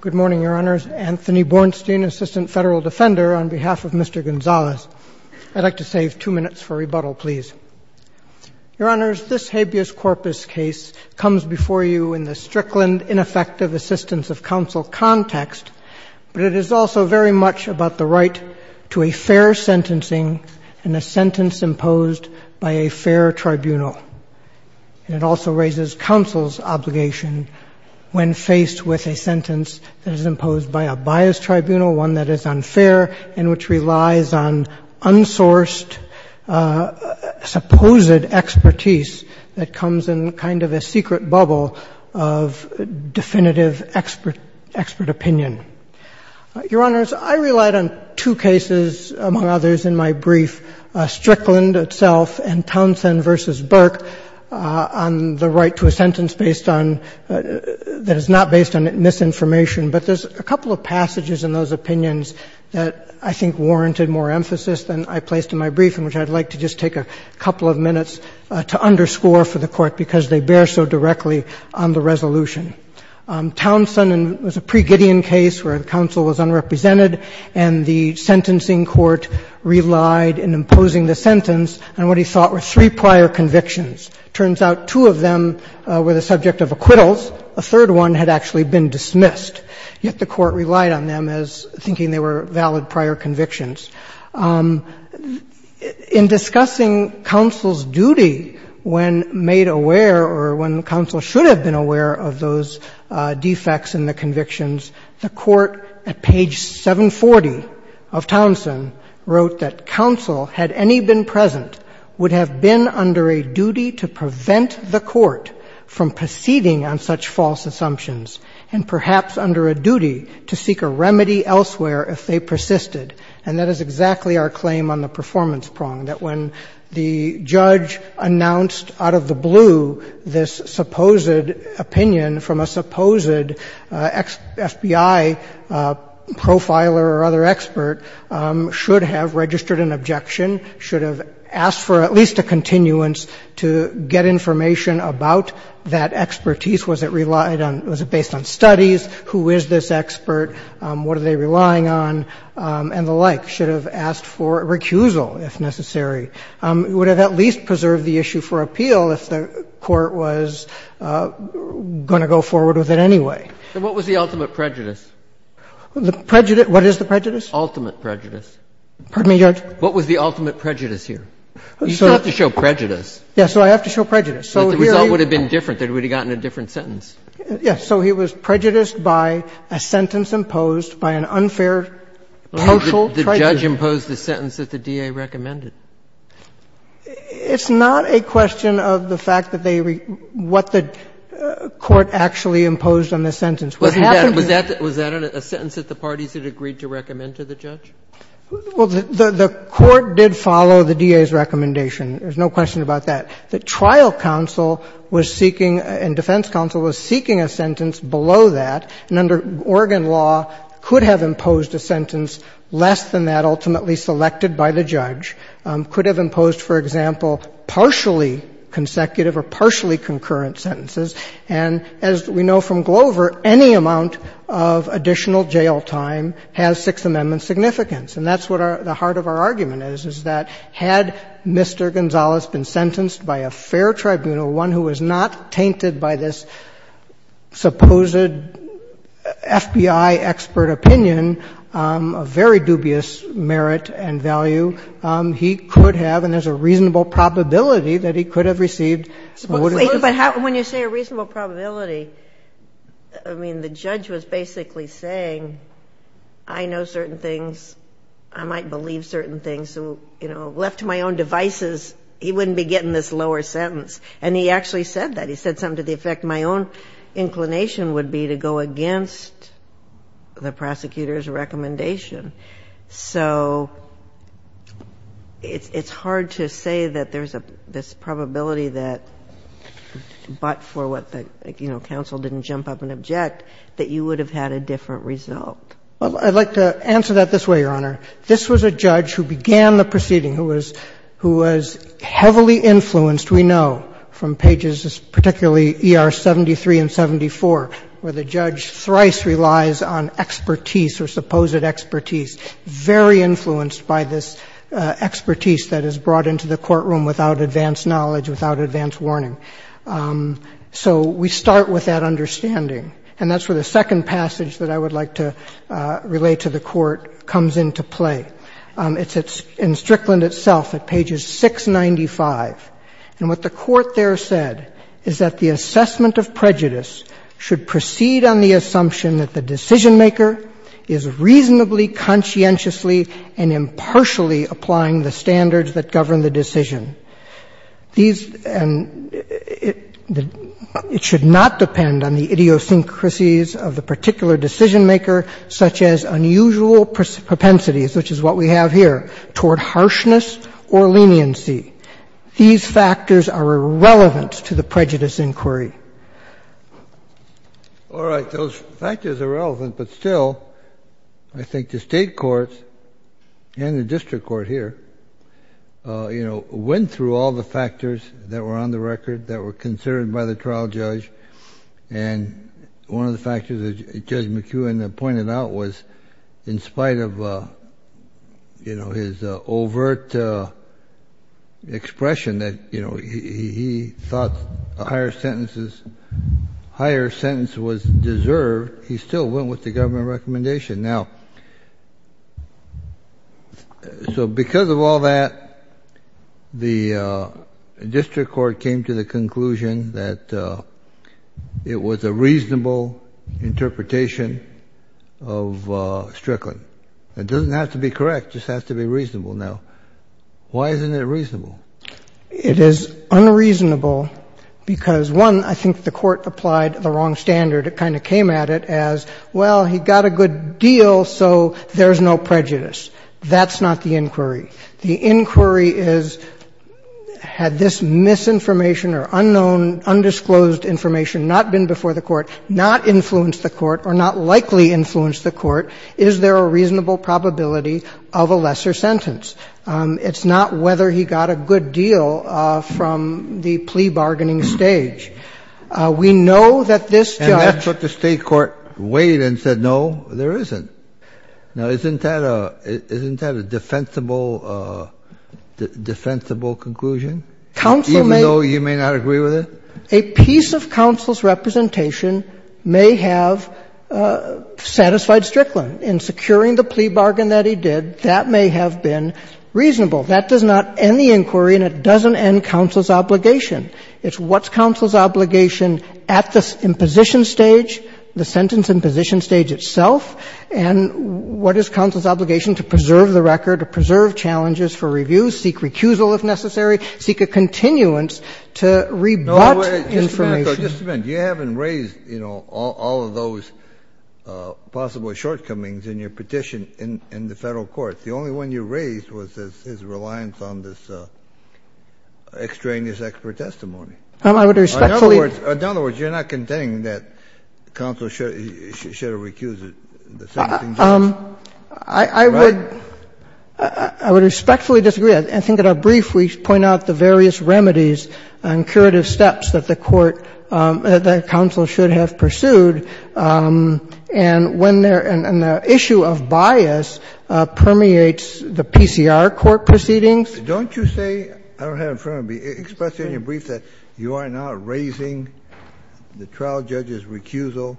Good morning, Your Honors. Anthony Bornstein, Assistant Federal Defender, on behalf of Mr. Gonzalez. I'd like to save two minutes for rebuttal, please. Your Honors, this habeas corpus case comes before you in the Strickland ineffective assistance of counsel context, but it is also very much about the right to a fair sentencing and a sentence imposed by a fair tribunal. And it also raises counsel's obligation when faced with a sentence that is imposed by a biased tribunal, one that is unfair and which relies on unsourced supposed expertise that comes in kind of a secret bubble of definitive expert opinion. Your Honors, I relied on two cases, among others, in my brief, Strickland itself and Townsend v. Burke, on the right to a sentence based on — that is not based on misinformation. But there's a couple of passages in those opinions that I think warranted more emphasis than I placed in my brief, and which I'd like to just take a couple of minutes to underscore for the Court because they bear so directly on the resolution. Townsend was a pre-Gideon case where the counsel was unrepresented and the sentencing court relied in imposing the sentence on what he thought were three prior convictions. It turns out two of them were the subject of acquittals. A third one had actually been dismissed, yet the Court relied on them as thinking they were valid prior convictions. In discussing counsel's duty when made aware or when counsel should have been aware of those defects in the convictions, the Court at page 740 of Townsend wrote that counsel, had any been present, would have been under a duty to prevent the court from proceeding on such false assumptions and perhaps under a duty to seek a remedy elsewhere if they persisted. And that is exactly our claim on the performance prong, that when the judge announced out of the blue this supposed opinion from a supposed FBI profiler or other expert should have registered an objection, should have asked for at least a continuance to get information about that expertise. Was it relied on? Was it based on studies? Who is this expert? What are they relying on? And the like. Should have asked for a recusal if necessary. Would have at least preserved the issue for appeal if the Court was going to go forward with it anyway. So what was the ultimate prejudice? The prejudice? What is the prejudice? Ultimate prejudice. Pardon me, Judge? What was the ultimate prejudice here? You still have to show prejudice. Yes. So I have to show prejudice. But the result would have been different. It would have gotten a different sentence. So he was prejudiced by a sentence imposed by an unfair partial tribunal. The judge imposed the sentence that the DA recommended. It's not a question of the fact that they what the Court actually imposed on the sentence. Was that a sentence that the parties had agreed to recommend to the judge? Well, the Court did follow the DA's recommendation. There's no question about that. The trial counsel was seeking and defense counsel was seeking a sentence below that. And under Oregon law, could have imposed a sentence less than that ultimately selected by the judge. Could have imposed, for example, partially consecutive or partially concurrent sentences. And as we know from Glover, any amount of additional jail time has Sixth Amendment significance. And that's what the heart of our argument is, is that had Mr. Gonzalez been sentenced by a fair tribunal, one who was not tainted by this supposed FBI expert opinion, a very dubious merit and value, he could have, and there's a reasonable probability that he could have received. But when you say a reasonable probability, I mean, the judge was basically saying I know certain things, I might believe certain things. So, you know, left to my own devices, he wouldn't be getting this lower sentence. And he actually said that. He said something to the effect my own inclination would be to go against the prosecutor's recommendation. So it's hard to say that there's this probability that, but for what the, you know, counsel didn't jump up and object, that you would have had a different result. Well, I'd like to answer that this way, Your Honor. This was a judge who began the proceeding, who was heavily influenced, we know, from pages, particularly ER 73 and 74, where the judge thrice relies on expertise or supposed expertise, very influenced by this expertise that is brought into the courtroom without advanced knowledge, without advanced warning. So we start with that understanding, and that's where the second passage that I would like to relate to the Court comes into play. It's in Strickland itself, at pages 695. And what the Court there said is that the assessment of prejudice should proceed on the assumption that the decisionmaker is reasonably, conscientiously, and impartially applying the standards that govern the decision. These, and it should not depend on the idiosyncrasies of the particular decisionmaker such as unusual propensities, which is what we have here, toward harshness or leniency. These factors are irrelevant to the prejudice inquiry. All right. Those factors are relevant, but still, I think the State courts and the district court here, you know, went through all the factors that were on the record that were considered by the trial judge, and one of the factors that Judge McEwen pointed out was in spite of, you know, his overt expression that, you know, he thought a higher sentence was deserved, he still went with the government recommendation. Now, so because of all that, the district court came to the conclusion that it was a reasonable interpretation of Strickland. It doesn't have to be correct. It just has to be reasonable. Now, why isn't it reasonable? It is unreasonable because, one, I think the Court applied the wrong standard. It kind of came at it as, well, he got a good deal, so there's no prejudice. That's not the inquiry. The inquiry is, had this misinformation or unknown, undisclosed information not been before the Court, not influenced the Court, or not likely influenced the Court, is there a reasonable probability of a lesser sentence? It's not whether he got a good deal from the plea bargaining stage. We know that this judge. Kennedy. And that's what the State court weighed and said, no, there isn't. Now, isn't that a defensible, defensible conclusion? Counsel may. Even though you may not agree with it? A piece of counsel's representation may have satisfied Strickland. In securing the plea bargain that he did, that may have been reasonable. That does not end the inquiry, and it doesn't end counsel's obligation. It's what's counsel's obligation at the imposition stage, the sentence imposition stage itself, and what is counsel's obligation to preserve the record, to preserve challenges for review, seek recusal if necessary, seek a continuance to rebut information. Kennedy. No, wait. Just a minute, though. Just a minute. You haven't raised, you know, all of those possible shortcomings in your petition in the Federal court. The only one you raised was his reliance on this extraneous expert testimony. I would respectfully. In other words, you're not contending that counsel should have recused the sentencing judge? I would respectfully disagree. I think in our brief we point out the various remedies and curative steps that the court, that counsel should have pursued. And the issue of bias permeates the PCR court proceedings. Don't you say, I don't have it in front of me, express in your brief that you are not raising the trial judge's recusal?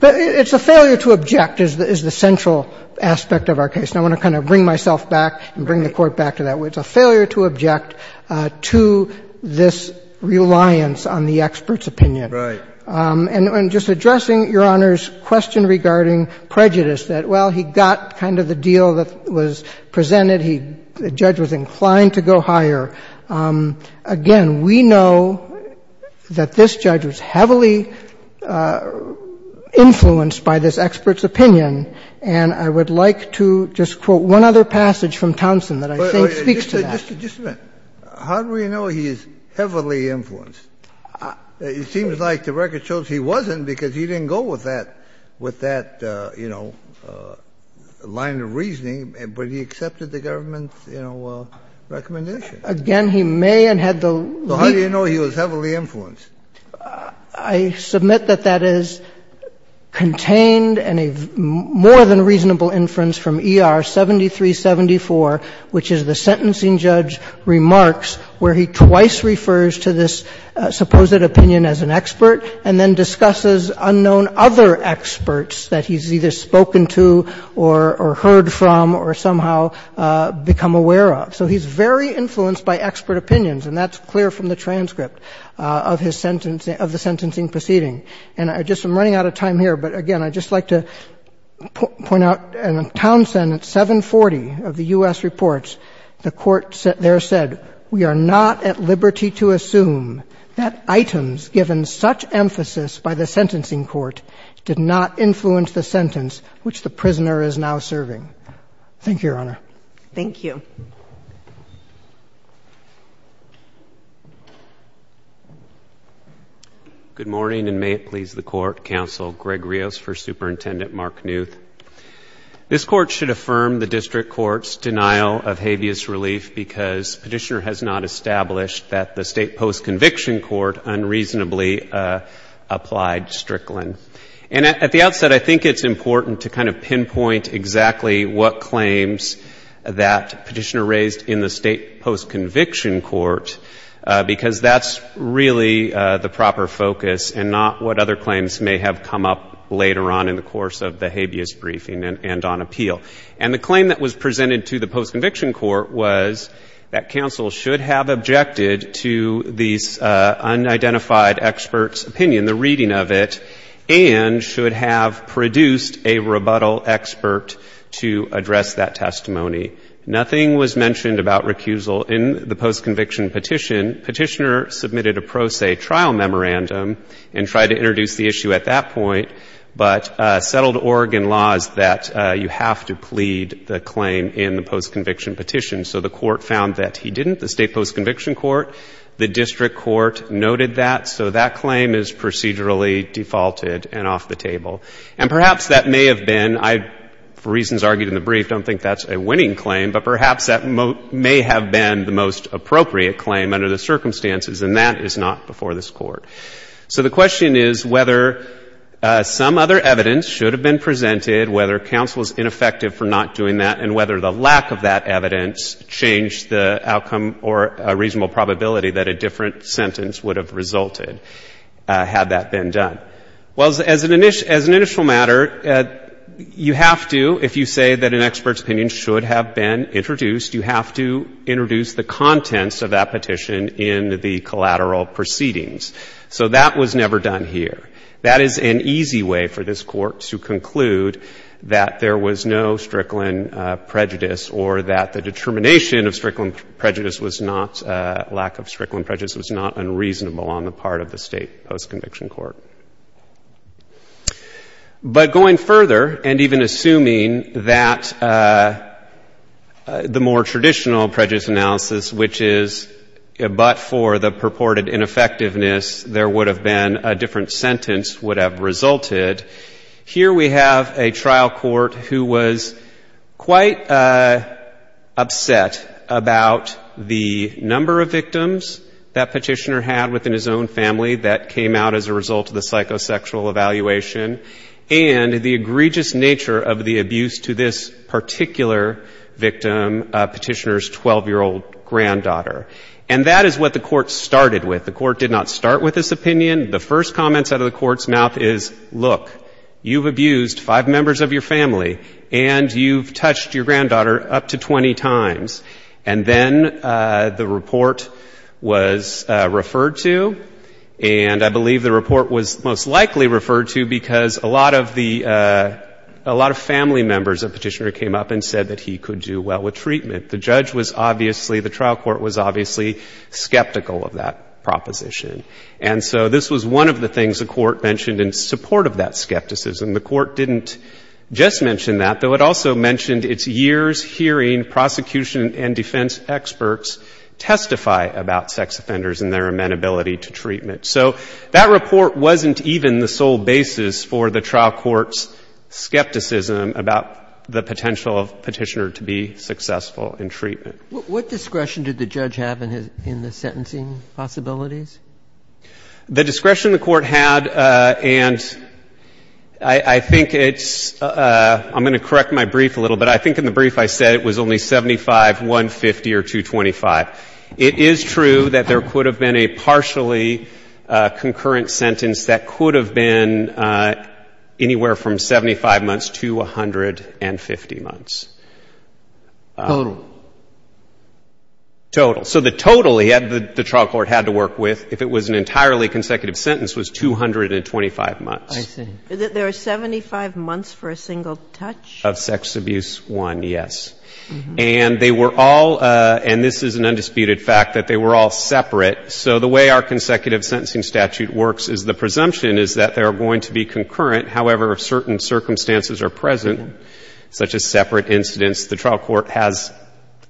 It's a failure to object is the central aspect of our case. And I want to kind of bring myself back and bring the Court back to that. It's a failure to object to this reliance on the expert's opinion. Right. And just addressing Your Honor's question regarding prejudice, that, well, he got kind of the deal that was presented. The judge was inclined to go higher. Again, we know that this judge was heavily influenced by this expert's opinion. And I would like to just quote one other passage from Townsend that I think speaks to that. Just a minute. How do we know he is heavily influenced? It seems like the record shows he wasn't because he didn't go with that, with that, you know, line of reasoning. But he accepted the government's, you know, recommendation. Again, he may have had the leap. So how do you know he was heavily influenced? I submit that that is contained in a more than reasonable inference from ER 7374, which is the sentencing judge remarks where he twice refers to this supposed opinion as an expert and then discusses unknown other experts that he's either spoken to or heard from or somehow become aware of. So he's very influenced by expert opinions. And that's clear from the transcript of his sentence of the sentencing proceeding. And I just am running out of time here. But again, I'd just like to point out in Townsend at 740 of the U.S. reports, the court there said, We are not at liberty to assume that items given such emphasis by the sentencing court did not influence the sentence which the prisoner is now serving. Thank you, Your Honor. Thank you. Thank you. Good morning, and may it please the Court, Counsel Greg Rios for Superintendent Mark Knuth. This Court should affirm the district court's denial of habeas relief because Petitioner has not established that the state post-conviction court unreasonably applied Strickland. And at the outset, I think it's important to kind of pinpoint exactly what claims that Petitioner raised in the state post-conviction court because that's really the proper focus and not what other claims may have come up later on in the course of the habeas briefing and on appeal. And the claim that was presented to the post-conviction court was that counsel should have objected to these unidentified experts' opinion, the reading of it, and should have produced a rebuttal expert to address that testimony. Nothing was mentioned about recusal in the post-conviction petition. Petitioner submitted a pro se trial memorandum and tried to introduce the issue at that point, but settled Oregon laws that you have to plead the claim in the post-conviction petition. So the court found that he didn't, the state post-conviction court. The district court noted that. So that claim is procedurally defaulted and off the table. And perhaps that may have been, for reasons argued in the brief, I don't think that's a winning claim, but perhaps that may have been the most appropriate claim under the circumstances and that is not before this Court. So the question is whether some other evidence should have been presented, whether counsel is ineffective for not doing that, and whether the lack of that evidence changed the outcome or a reasonable probability that a different sentence would have resulted had that been done. Well, as an initial matter, you have to, if you say that an expert's opinion should have been introduced, you have to introduce the contents of that petition in the collateral proceedings. So that was never done here. That is an easy way for this Court to conclude that there was no Strickland prejudice or that the determination of Strickland prejudice was not, lack of Strickland prejudice was not unreasonable on the part of the state post-conviction court. But going further and even assuming that the more traditional prejudice analysis, which is but for the purported ineffectiveness, there would have been a different sentence would have resulted, here we have a trial court who was quite upset about the number of victims that Petitioner had within his own family that came out as a result of the psychosexual evaluation and the egregious nature of the abuse to this particular victim, Petitioner's 12-year-old granddaughter. And that is what the Court started with. The Court did not start with this opinion. The first comments out of the Court's mouth is, look, you've abused five members of your family, and you've touched your granddaughter up to 20 times. And then the report was referred to, and I believe the report was most likely referred to because a lot of the, a lot of family members of Petitioner came up and said that he could do well with treatment. The judge was obviously, the trial court was obviously skeptical of that proposition. And so this was one of the things the Court mentioned in support of that skepticism. The Court didn't just mention that, though it also mentioned its years hearing prosecution and defense experts testify about sex offenders and their amenability to treatment. So that report wasn't even the sole basis for the trial court's skepticism about the potential of Petitioner to be successful in treatment. What discretion did the judge have in his, in the sentencing possibilities? The discretion the Court had, and I think it's, I'm going to correct my brief a little bit. I think in the brief I said it was only 75, 150, or 225. It is true that there could have been a partially concurrent sentence that could have been anywhere from 75 months to 150 months. Total. Total. So the total the trial court had to work with, if it was an entirely consecutive sentence, was 225 months. I see. There are 75 months for a single touch? Of sex abuse, one, yes. And they were all, and this is an undisputed fact, that they were all separate. So the way our consecutive sentencing statute works is the presumption is that they are going to be concurrent, however, certain circumstances are present, such as the trial court has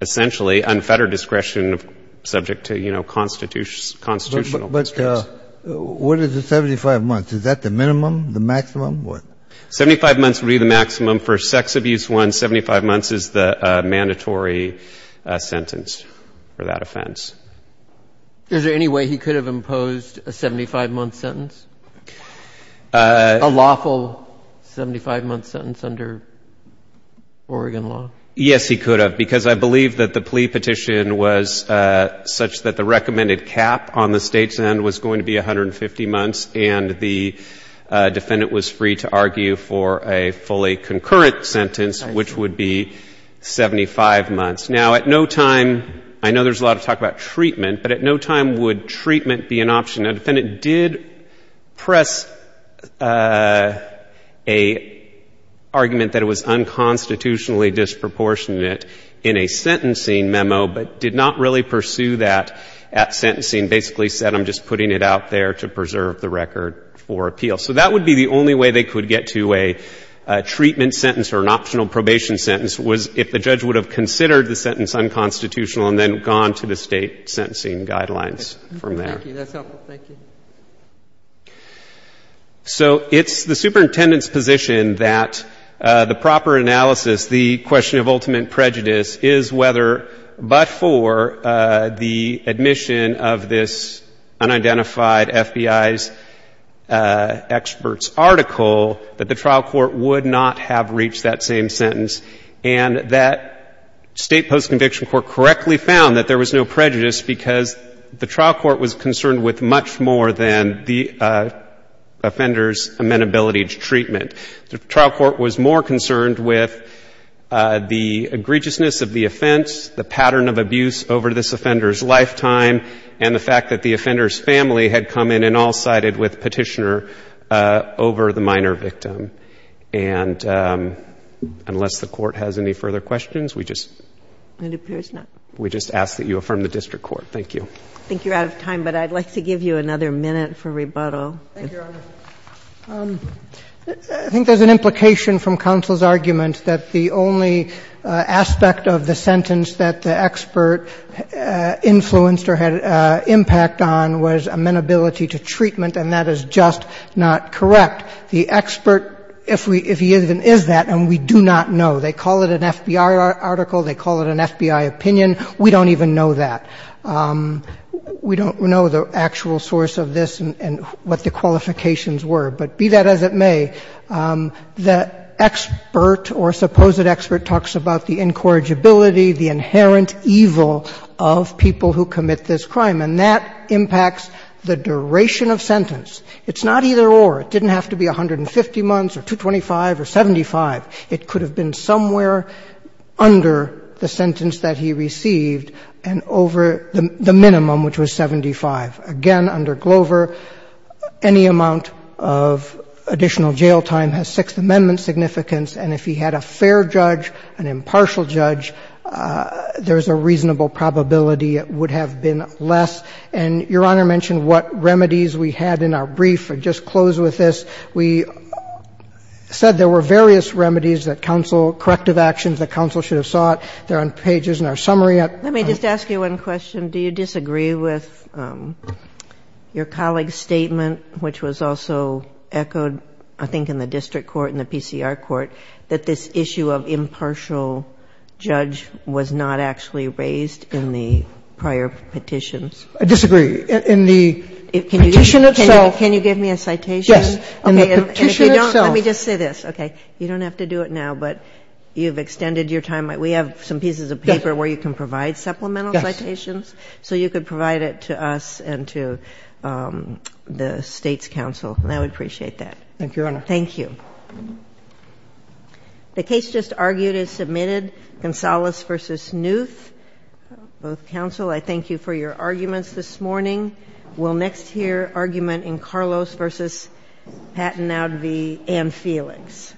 essentially unfettered discretion subject to, you know, constitutional constraints. But what is the 75 months? Is that the minimum, the maximum, what? Seventy-five months would be the maximum for a sex abuse one. Seventy-five months is the mandatory sentence for that offense. Is there any way he could have imposed a 75-month sentence, a lawful 75-month sentence under Oregon law? Yes, he could have, because I believe that the plea petition was such that the recommended cap on the state's end was going to be 150 months, and the defendant was free to argue for a fully concurrent sentence, which would be 75 months. Now, at no time, I know there's a lot of talk about treatment, but at no time would treatment be an option. Now, the defendant did press an argument that it was unconstitutionally disproportionate in a sentencing memo, but did not really pursue that at sentencing, basically said, I'm just putting it out there to preserve the record for appeal. So that would be the only way they could get to a treatment sentence or an optional probation sentence was if the judge would have considered the sentence unconstitutional and then gone to the state sentencing guidelines from there. Thank you. That's helpful. Thank you. So it's the superintendent's position that the proper analysis, the question of ultimate prejudice, is whether but for the admission of this unidentified FBI's experts' article, that the trial court would not have reached that same sentence, and that State Post-Conviction Court correctly found that there was no prejudice because the trial court was concerned with much more than the offender's amenability to treatment. The trial court was more concerned with the egregiousness of the offense, the pattern of abuse over this offender's lifetime, and the fact that the offender's family had come in and all-sided with Petitioner over the minor victim. And unless the Court has any further questions, we just ask that you affirm the district court. Thank you. I think you're out of time, but I'd like to give you another minute for rebuttal. Thank you, Your Honor. I think there's an implication from counsel's argument that the only aspect of the sentence that the expert influenced or had impact on was amenability to treatment, and that is just not correct. The expert, if he even is that, and we do not know. They call it an FBI article. They call it an FBI opinion. We don't even know that. We don't know the actual source of this and what the qualifications were. But be that as it may, the expert or supposed expert talks about the incorrigibility, the inherent evil of people who commit this crime, and that impacts the duration of sentence. It's not either-or. It didn't have to be 150 months or 225 or 75. It could have been somewhere under the sentence that he received and over the minimum, which was 75. Again, under Glover, any amount of additional jail time has Sixth Amendment significance, and if he had a fair judge, an impartial judge, there's a reasonable probability it would have been less. And Your Honor mentioned what remedies we had in our brief. I'll just close with this. We said there were various remedies that counsel, corrective actions that counsel should have sought. They're on pages in our summary. Let me just ask you one question. Do you disagree with your colleague's statement, which was also echoed, I think, in the district court and the PCR court, that this issue of impartial judge was not actually raised in the prior petitions? I disagree. In the petition itself. Can you give me a citation? Yes. In the petition itself. Let me just say this. Okay. You don't have to do it now, but you've extended your time. We have some pieces of paper where you can provide supplemental citations. Yes. So you could provide it to us and to the State's counsel, and I would appreciate that. Thank you, Your Honor. Thank you. The case just argued is submitted. Gonzales v. Newth. Both counsel, I thank you for your arguments this morning. We'll next hear argument in Carlos v. Patten-Advie and Felix.